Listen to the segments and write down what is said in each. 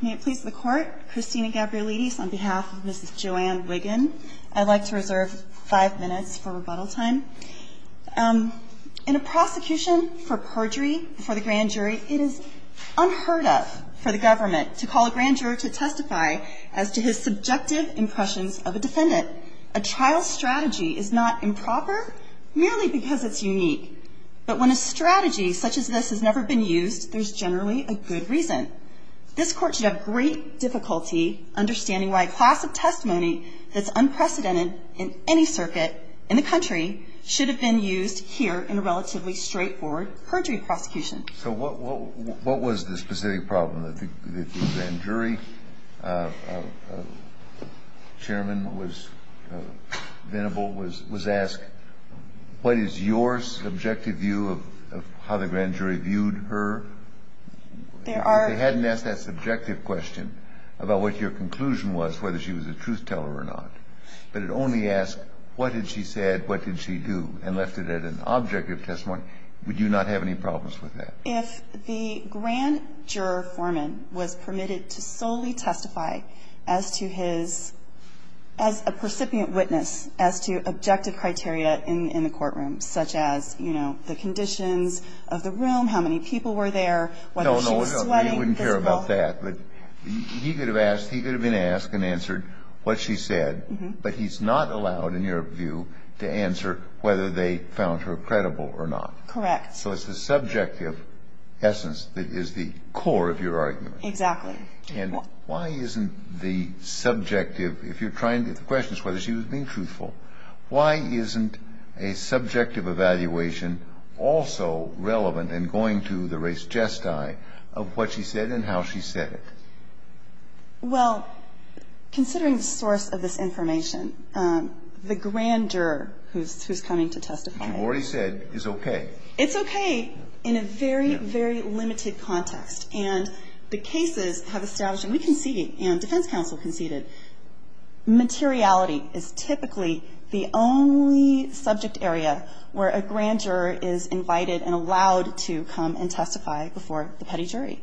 May it please the court, Christina Gabrielides on behalf of Mrs. Joann Wiggan. I'd like to reserve five minutes for rebuttal time. In a prosecution for perjury before the grand jury, it is unheard of for the government to call a grand jury to testify as to his subjective impressions of a defendant. A trial strategy is not improper merely because it's unique, but when a strategy such as this has never been used, there's generally a good reason. This court should have great difficulty understanding why a class of testimony that's unprecedented in any circuit in the country should have been used here in a relatively straightforward perjury prosecution. So what was the specific problem that the grand jury chairman was asked? What is your subjective view of how the grand jury viewed her? If they hadn't asked that subjective question about what your conclusion was, whether she was a truth teller or not, but it only asked what did she said, what did she do, and left it at an objective testimony, would you not have any problems with that? If the grand juror foreman was permitted to solely testify as to his as a percipient witness as to objective criteria in the courtroom, such as, you know, the conditions of the room, how many people were there, whether she was sweating. No, no, we wouldn't care about that. He could have been asked and answered what she said, but he's not allowed, in your view, to answer whether they found her credible or not. Correct. So it's the subjective essence that is the core of your argument. Exactly. And why isn't the subjective, if you're trying to, the question is whether she was being truthful, why isn't a subjective evaluation also relevant in going to the race gesti of what she said and how she said it? Well, considering the source of this information, the grand juror who's coming to testify. You've already said is okay. It's okay in a very, very limited context. And the cases have established, and we conceded and defense counsel conceded, materiality is typically the only subject area where a grand juror is invited and allowed to come and testify before the petty jury.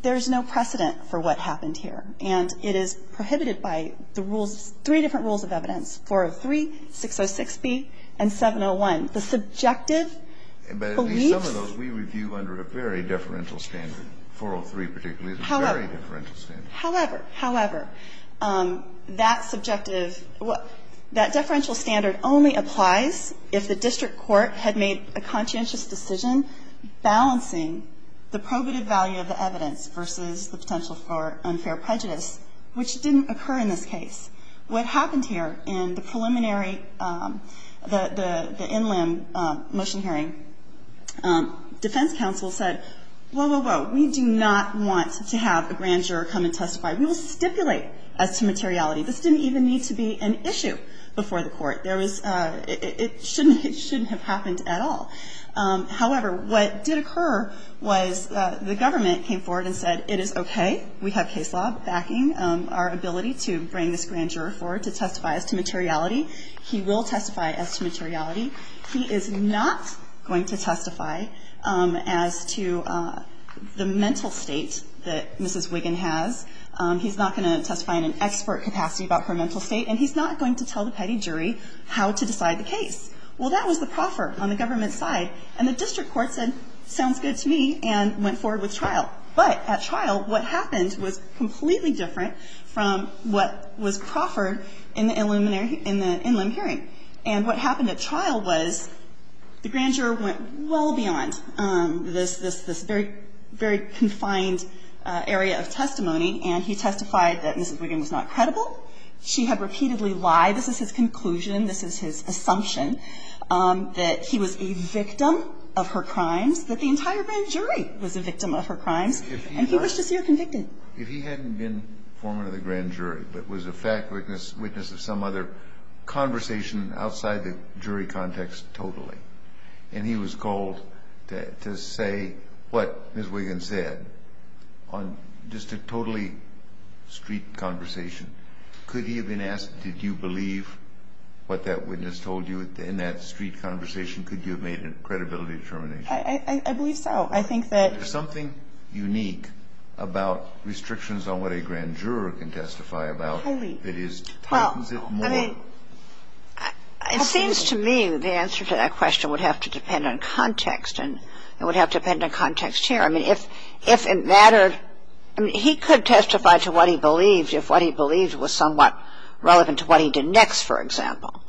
There's no precedent for what happened here. And it is prohibited by the rules, three different rules of evidence, 403, 606B, and 701. The subjective beliefs. But at least some of those we review under a very deferential standard. 403 particularly is a very deferential standard. However, however, that subjective, that deferential standard only applies if the district court had made a conscientious decision balancing the probative value of the evidence versus the potential for unfair prejudice, which didn't occur in this case. What happened here in the preliminary, the in limb motion hearing, defense counsel said, whoa, whoa, whoa, we do not want to have a grand juror come and testify. We will stipulate as to materiality. This didn't even need to be an issue before the court. It shouldn't have happened at all. However, what did occur was the government came forward and said, it is okay. We have case law backing our ability to bring this grand juror forward to testify as to materiality. He will testify as to materiality. He is not going to testify as to the mental state that Mrs. Wiggin has. He's not going to testify in an expert capacity about her mental state. And he's not going to tell the petty jury how to decide the case. Well, that was the proffer on the government side. And the district court said, sounds good to me, and went forward with trial. But at trial, what happened was completely different from what was proffered in the in limb hearing. And what happened at trial was the grand juror went well beyond this very, very confined area of testimony. And he testified that Mrs. Wiggin was not credible. She had repeatedly lied. This is his conclusion. This is his assumption that he was a victim of her crimes, that the entire grand jury was a victim of her crimes. And he was just here convicted. If he hadn't been foreman of the grand jury but was a fact witness of some other conversation outside the jury context totally, and he was called to say what Mrs. Wiggin said on just a totally street conversation, could he have been asked, did you believe what that witness told you in that street conversation? Could you have made a credibility determination? I believe so. There's something unique about restrictions on what a grand juror can testify about that tightens it more. It seems to me the answer to that question would have to depend on context, and it would have to depend on context here. I mean, if it mattered, I mean, he could testify to what he believed if what he believed was somewhat relevant to what he did next, for example,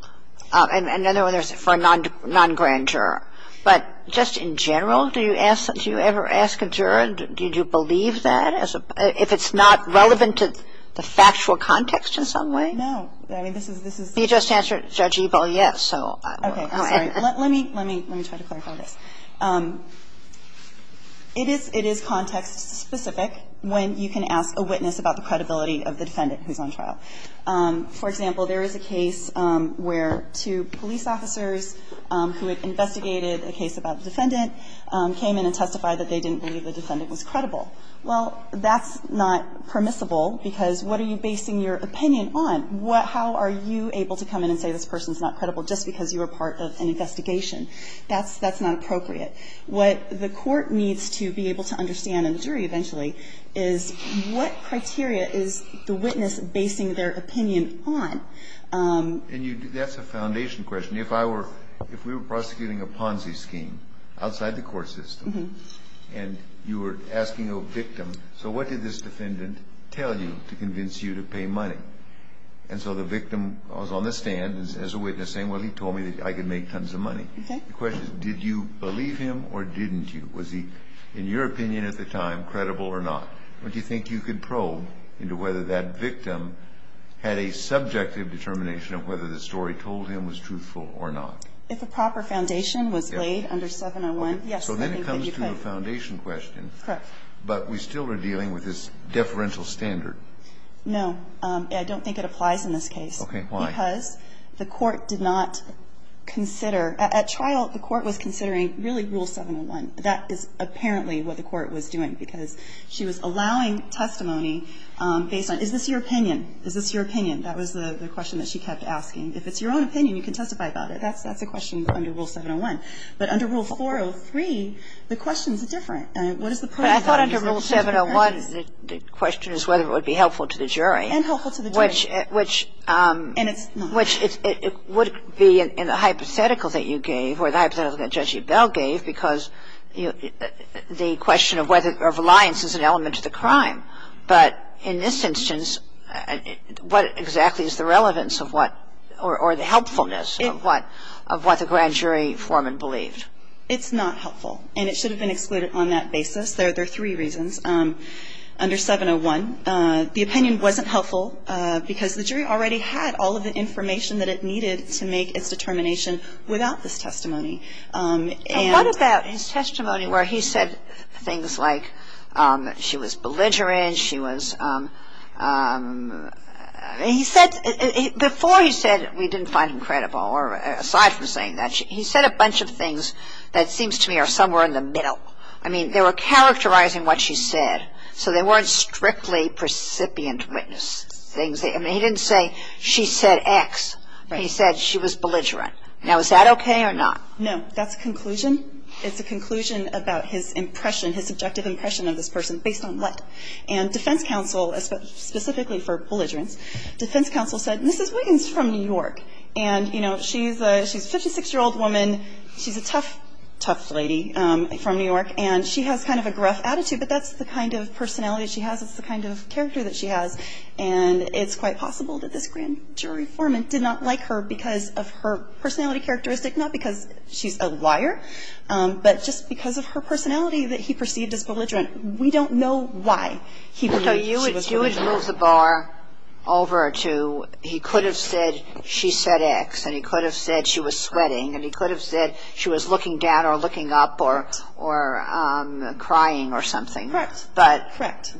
and then there's for a non-grand juror. But just in general, do you ask, do you ever ask a juror, did you believe that, if it's not relevant to the factual context in some way? No. I mean, this is, this is. You just answered Judge Ebell, yes, so. Okay. Sorry. Let me, let me, let me try to clarify this. It is, it is context specific when you can ask a witness about the credibility of the defendant who's on trial. For example, there is a case where two police officers who had investigated a case about the defendant came in and testified that they didn't believe the defendant was credible. Well, that's not permissible because what are you basing your opinion on? How are you able to come in and say this person's not credible just because you were part of an investigation? That's, that's not appropriate. What the court needs to be able to understand, and the jury eventually, is what criteria is the witness basing their opinion on? And you, that's a foundation question. If I were, if we were prosecuting a Ponzi scheme outside the court system and you were asking a victim, so what did this defendant tell you to convince you to pay money? And so the victim was on the stand as a witness saying, well, he told me that I could make tons of money. Okay. The question is, did you believe him or didn't you? Was he, in your opinion at the time, credible or not? Do you think you could probe into whether that victim had a subjective determination of whether the story told him was truthful or not? If a proper foundation was laid under 701, yes, I think that you could. Okay. So then it comes to a foundation question. Correct. But we still are dealing with this deferential standard. No. I don't think it applies in this case. Okay. Why? Because the court did not consider, at trial the court was considering really rule 701. That is apparently what the court was doing because she was allowing testimony based on, is this your opinion? Is this your opinion? That was the question that she kept asking. If it's your own opinion, you can testify about it. That's a question under Rule 701. But under Rule 403, the questions are different. What is the point of that? But I thought under Rule 701, the question is whether it would be helpful to the jury. And helpful to the jury. Which it would be in the hypothetical that you gave or the hypothetical that Judge Bell gave because the question of whether reliance is an element to the crime. But in this instance, what exactly is the relevance of what or the helpfulness of what the grand jury foreman believed? It's not helpful. And it should have been excluded on that basis. There are three reasons. Under 701, the opinion wasn't helpful because the jury already had all of the information that it needed to make its determination without this testimony. And what about his testimony where he said things like she was belligerent, she was ‑‑ he said, before he said we didn't find him credible or aside from saying that, he said a bunch of things that seems to me are somewhere in the middle. I mean, they were characterizing what she said. So they weren't strictly precipient witness things. I mean, he didn't say she said X. He said she was belligerent. Now, is that okay or not? No. That's a conclusion. It's a conclusion about his impression, his subjective impression of this person based on what? And defense counsel, specifically for belligerence, defense counsel said Mrs. Wiggins is from New York. And, you know, she's a ‑‑ she's a 56-year-old woman. She's a tough, tough lady from New York. And she has kind of a gruff attitude, but that's the kind of personality she has. That's the kind of character that she has. And it's quite possible that this grand jury foreman did not like her because of her personality characteristic, not because she's a liar, but just because of her personality that he perceived as belligerent. We don't know why he believed she was belligerent. So you would move the bar over to he could have said she said X, and he could have said she was sweating, and he could have said she was looking down or looking up or crying or something. Correct. But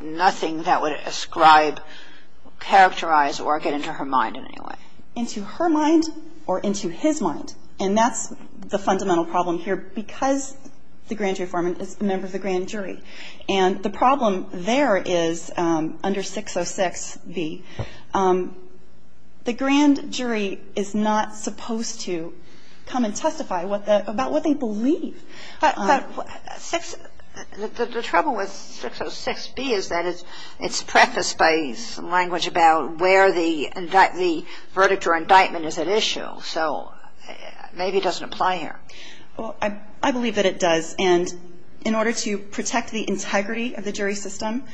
nothing that would ascribe, characterize, or get into her mind in any way. Into her mind or into his mind. And that's the fundamental problem here because the grand jury foreman is a member of the grand jury. And the problem there is under 606B, the grand jury is not supposed to come and testify about what they believe. The trouble with 606B is that it's prefaced by language about where the verdict or indictment is at issue. So maybe it doesn't apply here. Well, I believe that it does. And in order to protect the integrity of the jury system,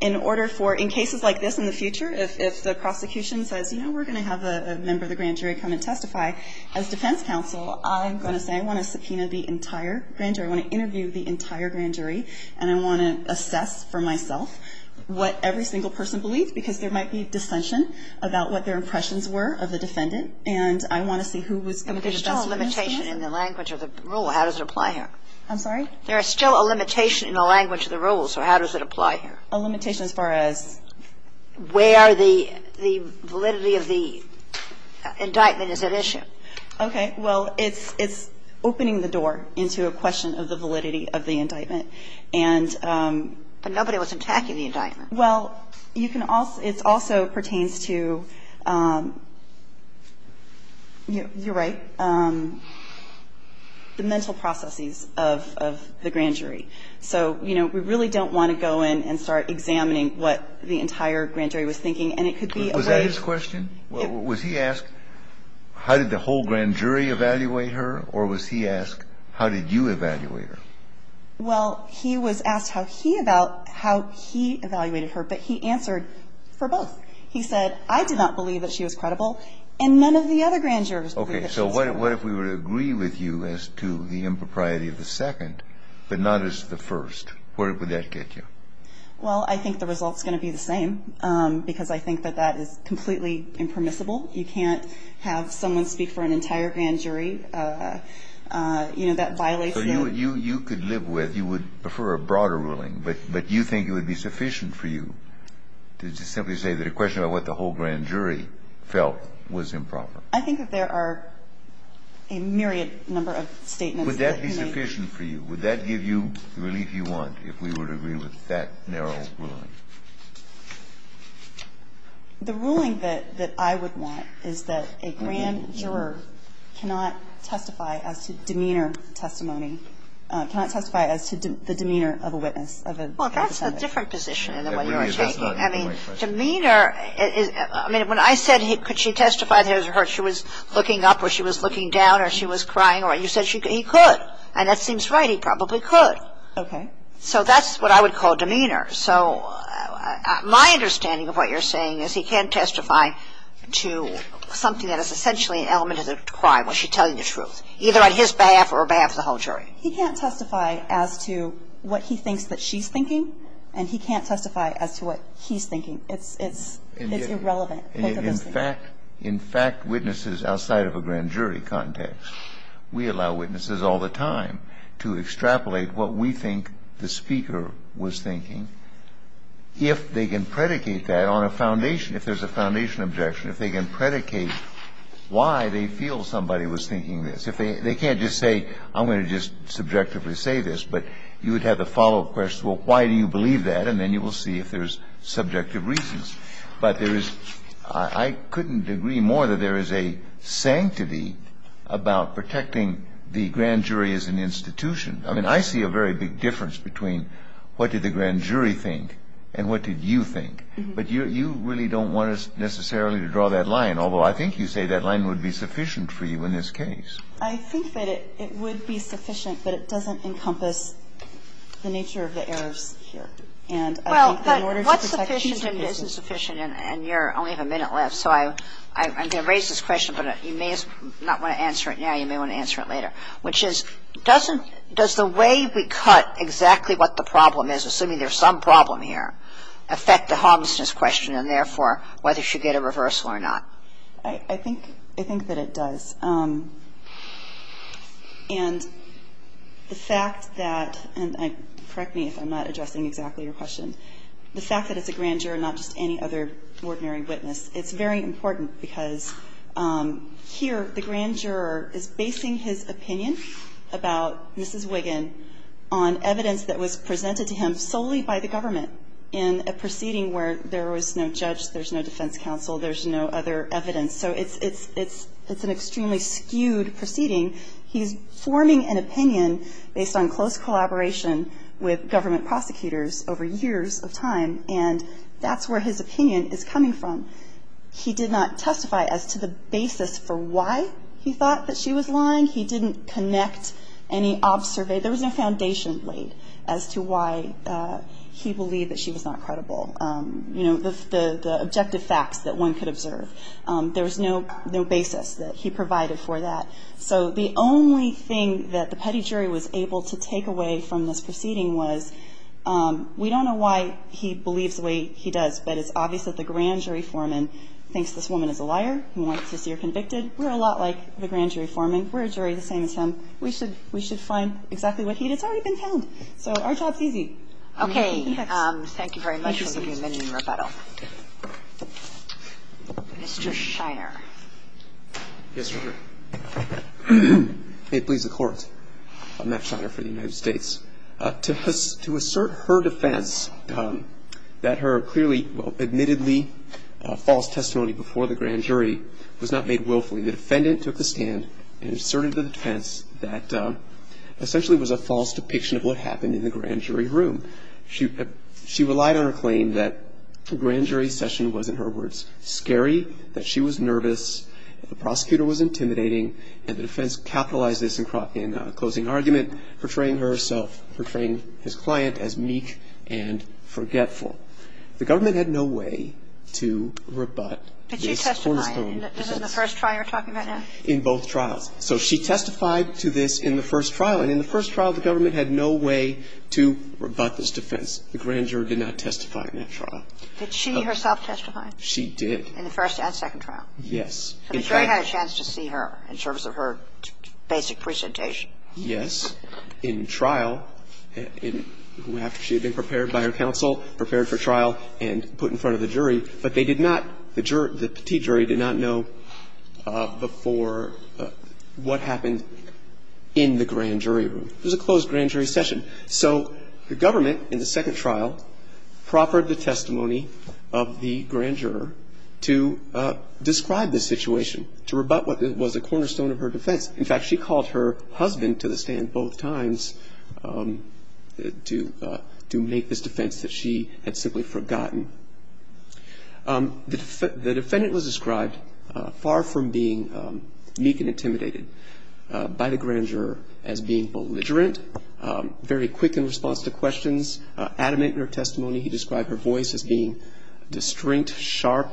in order for, in cases like this in the future, if the prosecution says, you know, we're going to have a member of the grand jury come and testify, as defense counsel I'm going to say I want to subpoena the entire grand jury, I want to interview the entire grand jury, and I want to assess for myself what every single person believes because there might be dissension about what their impressions were of the defendant and I want to see who was going to be the best in this case. There's still a limitation in the language of the rule. How does it apply here? I'm sorry? There is still a limitation in the language of the rule. So how does it apply here? A limitation as far as? Where the validity of the indictment is at issue. Okay. Well, it's opening the door into a question of the validity of the indictment. And no one was attacking the indictment. Well, it also pertains to, you're right, the mental processes of the grand jury. So, you know, we really don't want to go in and start examining what the entire grand jury was thinking, and it could be a way Was that his question? Was he asked how did the whole grand jury evaluate her or was he asked how did you evaluate her? Well, he was asked how he evaluated her, but he answered for both. He said, I did not believe that she was credible and none of the other grand jurors believed that she was credible. Okay. So what if we were to agree with you as to the impropriety of the second but not as to the first? Where would that get you? Well, I think the result is going to be the same because I think that that is completely impermissible. You can't have someone speak for an entire grand jury. You know, that violates the So you could live with, you would prefer a broader ruling, but you think it would be sufficient for you to simply say that a question about what the whole grand jury felt was improper. I think that there are a myriad number of statements Would that be sufficient for you? Would that give you the relief you want if we were to agree with that narrow ruling? The ruling that I would want is that a grand juror cannot testify as to demeanor testimony, cannot testify as to the demeanor of a witness. Well, that's a different position than what you are taking. I mean, demeanor is, I mean, when I said could she testify that she was looking up or she was looking down or she was crying, you said he could. And that seems right. He probably could. Okay. So that's what I would call demeanor. So my understanding of what you're saying is he can't testify to something that is essentially an element of the crime when she's telling the truth, either on his behalf or on behalf of the whole jury. He can't testify as to what he thinks that she's thinking, and he can't testify as to what he's thinking. It's irrelevant. In fact, witnesses outside of a grand jury context, we allow witnesses all the time to extrapolate what we think the speaker was thinking if they can predicate that on a foundation, if there's a foundation objection, if they can predicate why they feel somebody was thinking this. They can't just say, I'm going to just subjectively say this. But you would have the follow-up question, well, why do you believe that? And then you will see if there's subjective reasons. But there is – I couldn't agree more that there is a sanctity about protecting the grand jury as an institution. I mean, I see a very big difference between what did the grand jury think and what did you think. But you really don't want us necessarily to draw that line, although I think you say that line would be sufficient for you in this case. I think that it would be sufficient, but it doesn't encompass the nature of the errors here. And I think that in order to protect the institutions – Well, but what's sufficient and isn't sufficient? And you only have a minute left, so I'm going to raise this question, but you may not want to answer it now. You may want to answer it later. Which is, doesn't – does the way we cut exactly what the problem is, assuming there's some problem here, affect the homelessness question and, therefore, whether she get a reversal or not? I think that it does. And the fact that – and correct me if I'm not addressing exactly your question. The fact that it's a grand juror, not just any other ordinary witness, it's very important because here the grand juror is basing his opinion about Mrs. Wiggin on evidence that was presented to him solely by the government in a proceeding where there was no judge, there's no defense counsel, there's no other evidence. So it's an extremely skewed proceeding. He's forming an opinion based on close collaboration with government prosecutors over years of time, and that's where his opinion is coming from. He did not testify as to the basis for why he thought that she was lying. He didn't connect any observation. There was no foundation laid as to why he believed that she was not credible. You know, the objective facts that one could observe. There was no basis that he provided for that. So the only thing that the petty jury was able to take away from this proceeding was, we don't know why he believes the way he does, but it's obvious that the grand jury foreman thinks this woman is a liar, who wants to see her convicted. We're a lot like the grand jury foreman. We're a jury the same as him. We should find exactly what he did. It's already been found. So our job's easy. Okay. Thank you very much. We'll give you a minute in rebuttal. Mr. Shire. Yes, Your Honor. May it please the Court, I'm Matt Shire for the United States. To assert her defense that her clearly, well, admittedly false testimony before the grand jury was not made willfully, the defendant took a stand and asserted the defense that essentially was a false depiction of what happened in the grand jury room. She relied on her claim that the grand jury session was, in her words, scary, that she was nervous, the prosecutor was intimidating, and the defense capitalized this in closing argument, portraying herself, portraying his client as meek and forgetful. The government had no way to rebut this. Did she testify in the first trial you're talking about now? In both trials. So she testified to this in the first trial, and in the first trial the government had no way to rebut this defense. The grand jury did not testify in that trial. Did she herself testify? She did. In the first and second trial? Yes. And the jury had a chance to see her in terms of her basic presentation? Yes. In trial, after she had been prepared by her counsel, prepared for trial, and put in front of the jury, but they did not, the jury, the petit jury did not know before what happened in the grand jury room. It was a closed grand jury session. So the government in the second trial proffered the testimony of the grand juror to describe the situation, to rebut what was a cornerstone of her defense. In fact, she called her husband to the stand both times to make this defense that she had simply forgotten. The defendant was described far from being meek and intimidated by the grand juror as being belligerent, very quick in response to questions, adamant in her testimony. He described her voice as being distinct, sharp,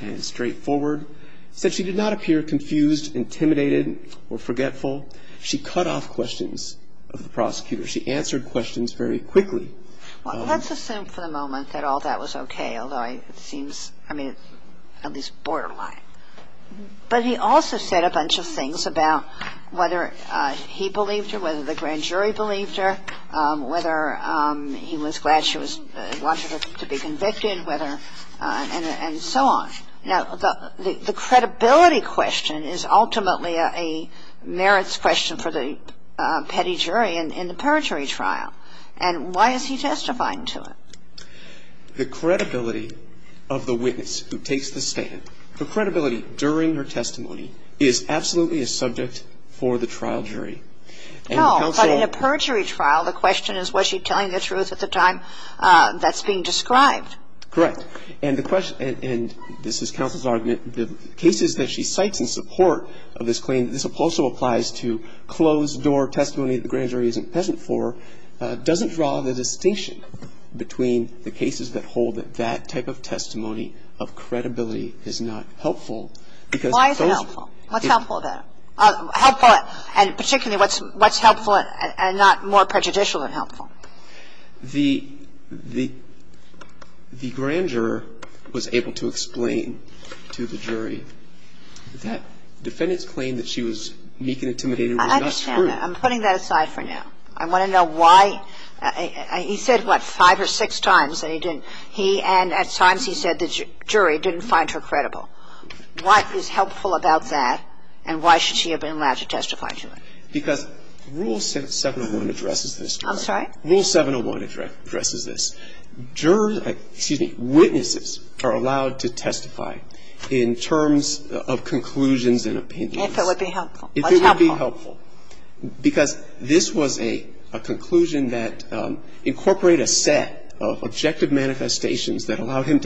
and straightforward. He said she did not appear confused, intimidated, or forgetful. She cut off questions of the prosecutor. She answered questions very quickly. Well, let's assume for the moment that all that was okay, although it seems, I mean, at least borderline. But he also said a bunch of things about whether he believed her, whether the grand jury believed her, whether he was glad she was wanted to be convicted, whether, and so on. Now, the credibility question is ultimately a merits question for the petty jury in the perjury trial. And why is he testifying to it? The credibility of the witness who takes the stand, the credibility during her testimony, is absolutely a subject for the trial jury. No. But in a perjury trial, the question is, was she telling the truth at the time that's being described? Correct. And the question, and this is counsel's argument, the cases that she cites in support of this claim, this also applies to closed-door testimony that the grand jury isn't peasant for, doesn't draw the distinction between the cases that hold that that type of testimony of credibility is not helpful. Why is it helpful? What's helpful about it? Helpful, and particularly what's helpful and not more prejudicial than helpful? The grand juror was able to explain to the jury that the defendant's claim that she was meek and intimidating was not true. I understand that. I'm putting that aside for now. I want to know why he said, what, five or six times that he didn't, he and at times he said the jury didn't find her credible. What is helpful about that, and why should she have been allowed to testify to it? Because Rule 701 addresses this. I'm sorry? Rule 701 addresses this. Jurors, excuse me, witnesses are allowed to testify in terms of conclusions and opinions. If it would be helpful. If it would be helpful. Because this was a conclusion that incorporated a set of objective manifestations that allowed him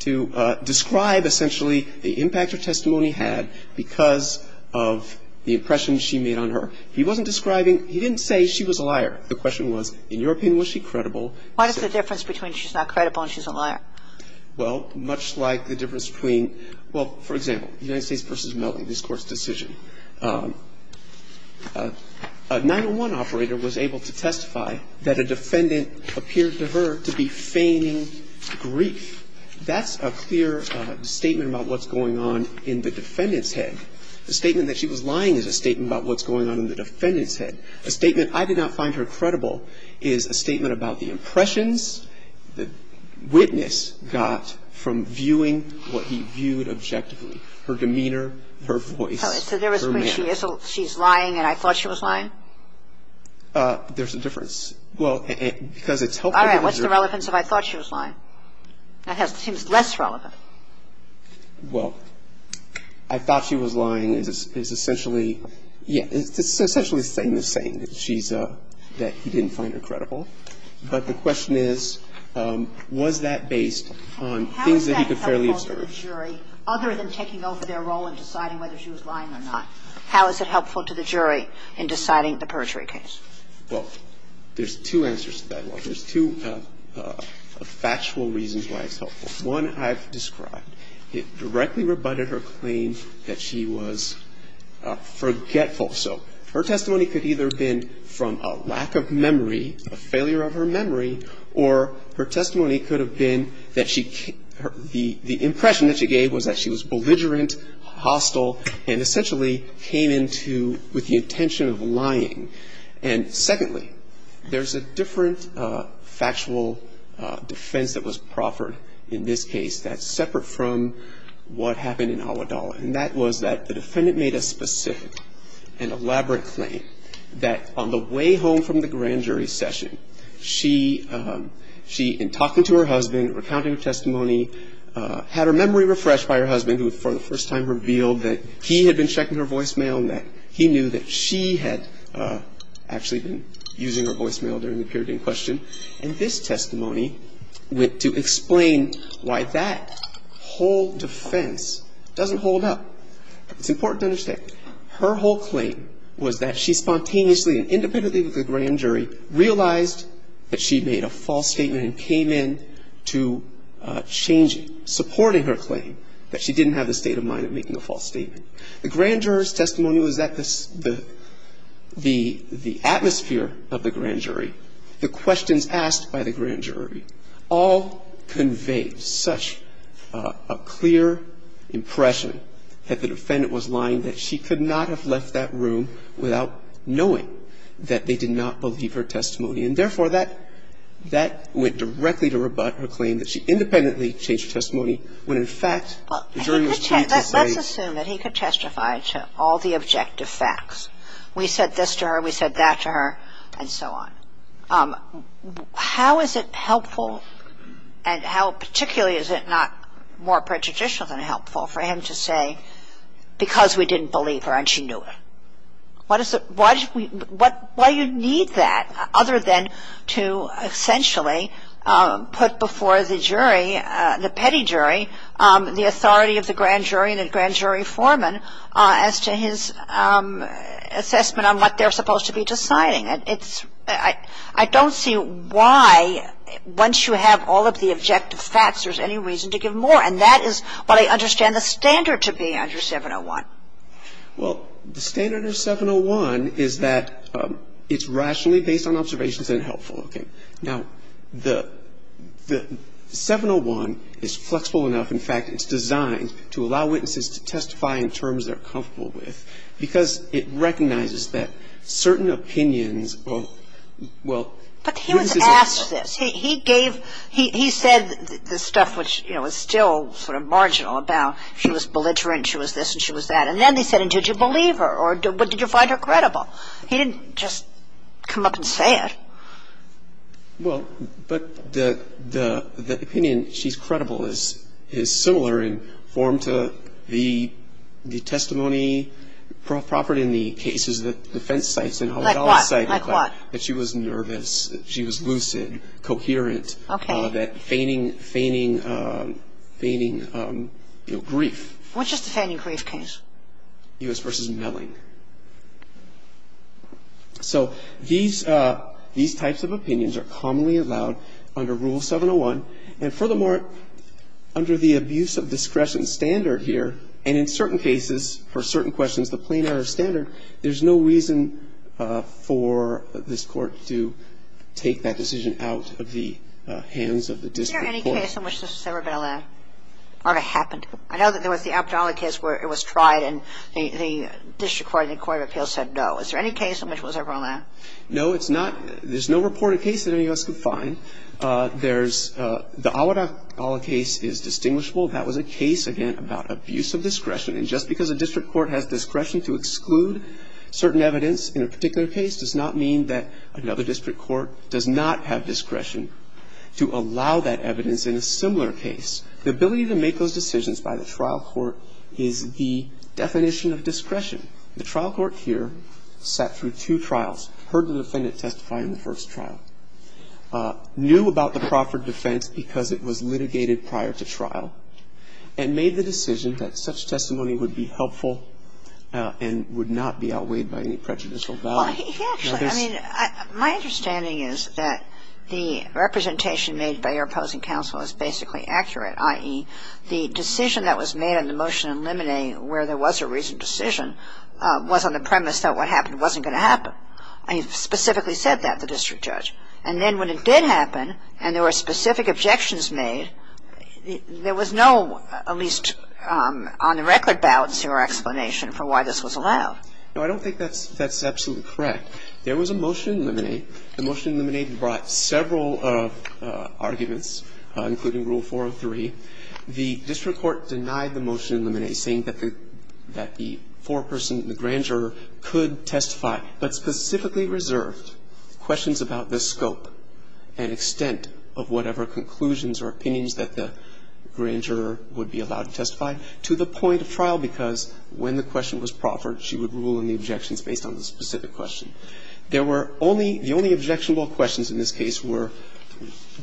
to describe essentially the impact her testimony had because of the impression she made on her. He wasn't describing, he didn't say she was a liar. The question was, in your opinion, was she credible? What is the difference between she's not credible and she's a liar? Well, much like the difference between, well, for example, United States v. Mellie, this Court's decision. A 901 operator was able to testify that a defendant appeared to her to be feigning grief. That's a clear statement about what's going on in the defendant's head. The statement that she was lying is a statement about what's going on in the defendant's head. A statement, I did not find her credible, is a statement about the impressions the witness got from viewing what he viewed objectively, her demeanor, her voice, her manner. So there was when she's lying and I thought she was lying? There's a difference. Well, because it's helpful. All right. What's the relevance of I thought she was lying? That seems less relevant. Well, I thought she was lying is essentially, yeah, it's essentially saying the same, that she's, that he didn't find her credible. But the question is, was that based on things that he could fairly observe? How is that helpful to the jury other than taking over their role in deciding whether she was lying or not? How is it helpful to the jury in deciding the perjury case? Well, there's two answers to that one. There's two factual reasons why it's helpful. One I've described. It directly rebutted her claim that she was forgetful. So her testimony could either have been from a lack of memory, a failure of her memory, or her testimony could have been that she, the impression that she gave was that she was belligerent, hostile, and essentially came into with the intention of lying. And secondly, there's a different factual defense that was proffered in this case that's separate from what happened in Awadallah. And that was that the defendant made a specific and elaborate claim that on the way home from the grand jury session, she, in talking to her husband, recounting her testimony, had her memory refreshed by her husband, who for the first time revealed that he had been checking her voicemail and that he knew that she had actually been using her voicemail during the period in question. And this testimony went to explain why that whole defense doesn't hold up. It's important to understand. Her whole claim was that she spontaneously and independently with the grand jury realized that she made a false statement and came in to change it, supporting her claim that she didn't have the state of mind of making a false statement. The grand jury's testimony was that the atmosphere of the grand jury, the questions asked by the grand jury, all conveyed such a clear impression that the defendant was lying, that she could not have left that room without knowing that they did not believe her testimony. And therefore, that went directly to rebut her claim that she independently changed her testimony when, in fact, the jury was trying to say that he could testify to all the objective facts. We said this to her, we said that to her, and so on. How is it helpful and how particularly is it not more prejudicial than helpful for him to say because we didn't believe her and she knew it? Why do you need that other than to essentially put before the jury, the petty jury, the authority of the grand jury and the grand jury foreman as to his assessment on what they're supposed to be deciding? I don't see why, once you have all of the objective facts, there's any reason to give more. And that is what I understand the standard to be under 701. Well, the standard of 701 is that it's rationally based on observations and helpful. Okay. Now, the 701 is flexible enough, in fact, it's designed to allow witnesses to testify in terms they're comfortable with because it recognizes that certain opinions of, well, witnesses of the court But he was asked this. He gave, he said the stuff which, you know, is still sort of marginal about she was belligerent, she was this and she was that. And then he said, and did you believe her or did you find her credible? He didn't just come up and say it. Well, but the opinion she's credible is similar in form to the testimony propertied in the cases that defense sites and holodomor sites. Like what? That she was nervous, that she was lucid, coherent. Okay. That feigning grief. What's just a feigning grief case? So, these types of opinions are commonly allowed under Rule 701. And furthermore, under the abuse of discretion standard here, and in certain cases, for certain questions, the plain error standard, there's no reason for this court to take that decision out of the hands of the district court. Is there any case in which this has ever been allowed? Or it happened? I know that there was the Abdallah case where it was tried and the district court and the court of appeals said no. Is there any case in which it was ever allowed? No, it's not. There's no reported case that any of us could find. There's the Awad Abdullah case is distinguishable. That was a case, again, about abuse of discretion. And just because a district court has discretion to exclude certain evidence in a particular case does not mean that another district court does not have discretion to allow that evidence in a similar case. The ability to make those decisions by the trial court is the definition of discretion. The trial court here sat through two trials, heard the defendant testify in the first trial, knew about the Crawford defense because it was litigated prior to trial, and made the decision that such testimony would be helpful and would not be outweighed by any prejudicial value. Well, actually, I mean, my understanding is that the representation made by your opposing counsel was basically accurate, i.e., the decision that was made in the motion in limine where there was a reasoned decision was on the premise that what happened wasn't going to happen. And you specifically said that, the district judge. And then when it did happen and there were specific objections made, there was no at least on the record balance or explanation for why this was allowed. No, I don't think that's absolutely correct. There was a motion in limine. The motion in limine brought several arguments, including Rule 403. The district court denied the motion in limine saying that the foreperson, the grand juror, could testify, but specifically reserved questions about the scope and extent of whatever conclusions or opinions that the grand juror would be allowed to testify to the point of trial, because when the question was Crawford, she would rule in the objections based on the specific question. There were only the only objectionable questions in this case were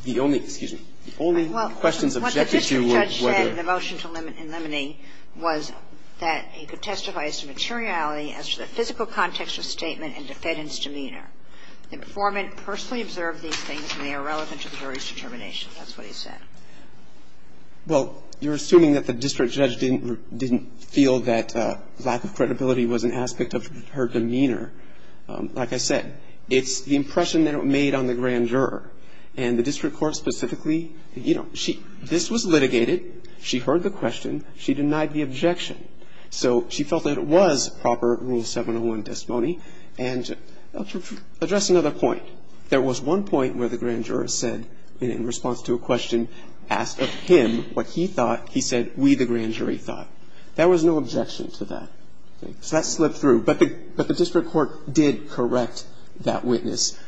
the only, excuse me, the only questions objected to were whether. Well, what the district judge said in the motion in limine was that he could testify as to materiality as to the physical context of statement and defendant's demeanor. The informant personally observed these things and they are relevant to the jury's determination. That's what he said. Well, you're assuming that the district judge didn't feel that lack of credibility was an aspect of her demeanor. Like I said, it's the impression that it made on the grand juror. And the district court specifically, you know, this was litigated. She heard the question. She denied the objection. So she felt that it was proper Rule 701 testimony. And to address another point, there was one point where the grand juror said in response to a question, asked of him what he thought, he said, we, the grand jury, thought. There was no objection to that. So that slipped through. But the district court did correct that witness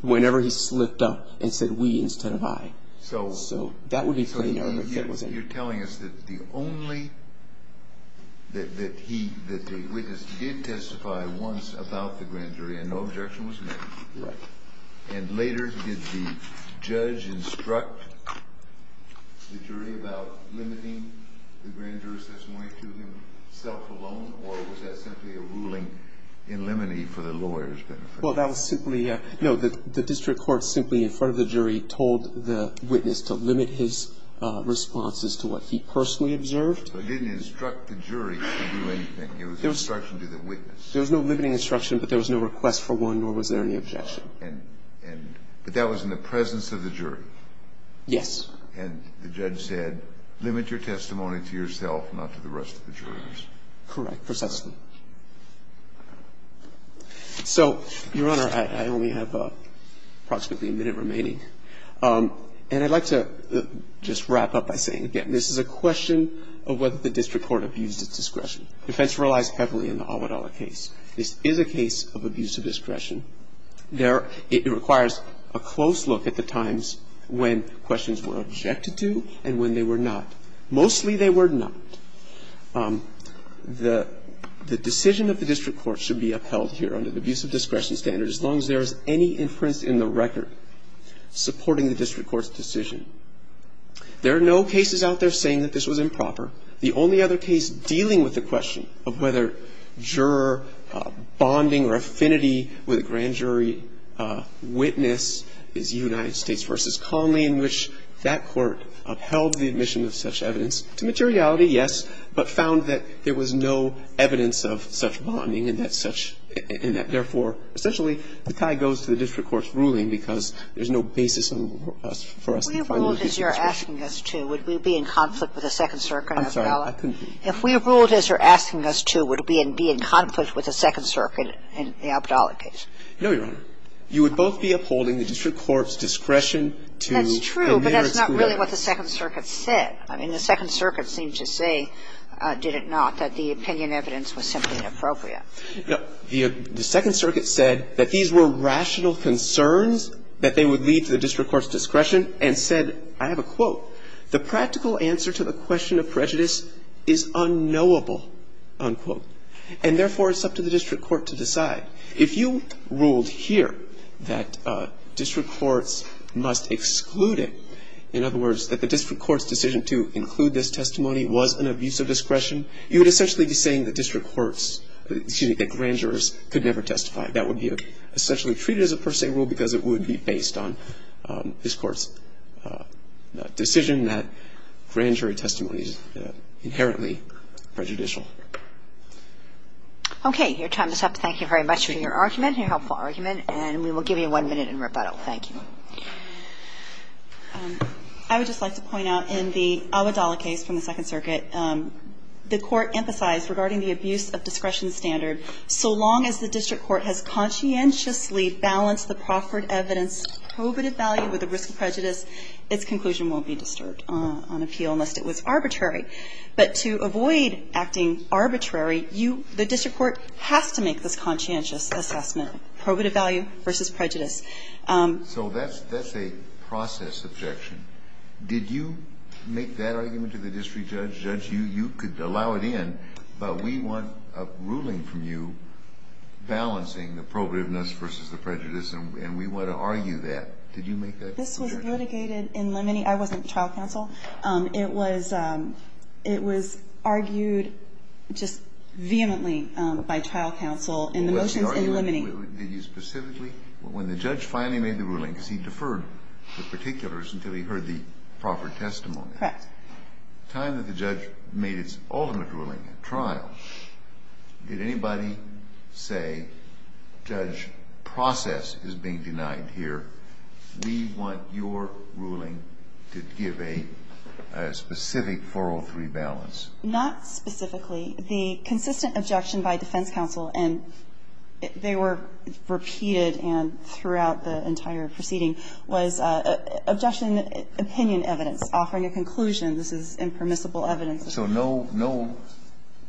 whenever he slipped up and said we instead of I. So that would be clear. You're telling us that the only, that the witness did testify once about the grand jury and no objection was made. Right. And later did the judge instruct the jury about limiting the grand juror's testimony to himself alone, or was that simply a ruling in limine for the lawyer's benefit? Well, that was simply, no, the district court simply in front of the jury told the witness to limit his responses to what he personally observed. So it didn't instruct the jury to do anything. It was instruction to the witness. There was no limiting instruction, but there was no request for one, nor was there any objection. And, but that was in the presence of the jury. Yes. And the judge said limit your testimony to yourself, not to the rest of the jurors. Correct. Precisely. So, Your Honor, I only have approximately a minute remaining. And I'd like to just wrap up by saying, again, this is a question of whether the district court abused its discretion. Defense relies heavily on the Almodovar case. This is a case of abuse of discretion. It requires a close look at the times when questions were objected to and when they were not. Mostly they were not. The decision of the district court should be upheld here under the abuse of discretion standard as long as there is any inference in the record supporting the district court's decision. There are no cases out there saying that this was improper. The only other case dealing with the question of whether juror bonding or affinity with a grand jury witness is United States v. Conley in which that court upheld the admission of such evidence to materiality, yes, but found that there was no evidence of such bonding and that such, and that, therefore, essentially, the tie goes to the district court's ruling because there's no basis for us to find those cases. If we ruled as you're asking us to, would we be in conflict with the Second Circuit of Almodovar? I'm sorry. I couldn't hear you. If we ruled as you're asking us to, would we be in conflict with the Second Circuit in the Almodovar case? No, Your Honor. You would both be upholding the district court's discretion to the merits of merit. That's true, but that's not really what the Second Circuit said. I mean, the Second Circuit seemed to say, did it not, that the opinion evidence was simply inappropriate. No. The Second Circuit said that these were rational concerns that they would lead to the district court's discretion and said, I have a quote, the practical answer to the question of prejudice is unknowable, unquote. And, therefore, it's up to the district court to decide. If you ruled here that district courts must exclude it, in other words, that the district court's decision to include this testimony was an abuse of discretion, you would essentially be saying that district courts, excuse me, that grand jurors could never testify. That would be essentially treated as a per se rule because it would be based on this district court's decision that grand jury testimony is inherently prejudicial. Okay. Your time is up. Thank you very much for your argument, your helpful argument, and we will give you one minute in rebuttal. Thank you. I would just like to point out in the Almodovar case from the Second Circuit, if the district court has conscientiously balanced the proffered evidence, probative value with the risk of prejudice, its conclusion won't be disturbed on appeal unless it was arbitrary. But to avoid acting arbitrary, you, the district court, has to make this conscientious assessment, probative value versus prejudice. So that's a process objection. Did you make that argument to the district judge? You could allow it in, but we want a ruling from you balancing the probativeness versus the prejudice, and we want to argue that. Did you make that objection? This was litigated in limine. I wasn't trial counsel. It was argued just vehemently by trial counsel in the motions in limine. Did you specifically? When the judge finally made the ruling, because he deferred the particulars until he heard the proffered testimony. Correct. The time that the judge made its ultimate ruling in trial, did anybody say, Judge, process is being denied here. We want your ruling to give a specific 403 balance. Not specifically. The consistent objection by defense counsel, and they were repeated throughout the entire proceeding, was objection opinion evidence, offering a conclusion. This is impermissible evidence. So no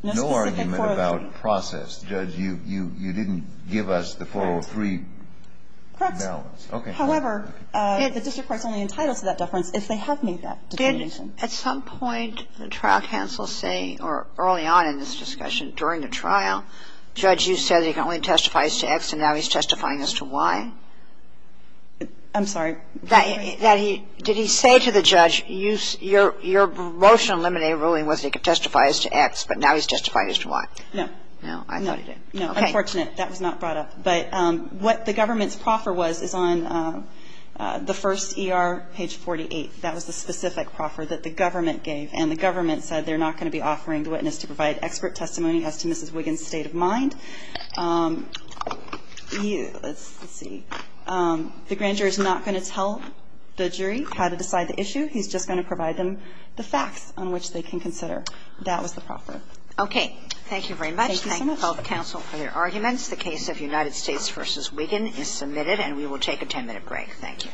argument about process. Judge, you didn't give us the 403 balance. Correct. However, the district court's only entitled to that deference if they have made that determination. Did at some point the trial counsel say, or early on in this discussion, during the trial, Judge, you said you can only testify as to X, and now he's testifying as to Y? I'm sorry. Did he say to the judge, your motion to eliminate a ruling was he could testify as to X, but now he's testifying as to Y? No. No. I thought he did. No. Okay. No. Unfortunate. That was not brought up. But what the government's proffer was is on the first ER, page 48. That was the specific proffer that the government gave, and the government said they're not going to be offering the witness to provide expert testimony as to Mrs. Wiggin's state of mind. Let's see. The grand jury is not going to tell the jury how to decide the issue. He's just going to provide them the facts on which they can consider. That was the proffer. Okay. Thank you very much. Thank you so much. Thank you, health counsel, for your arguments. The case of United States v. Wiggin is submitted, and we will take a 10-minute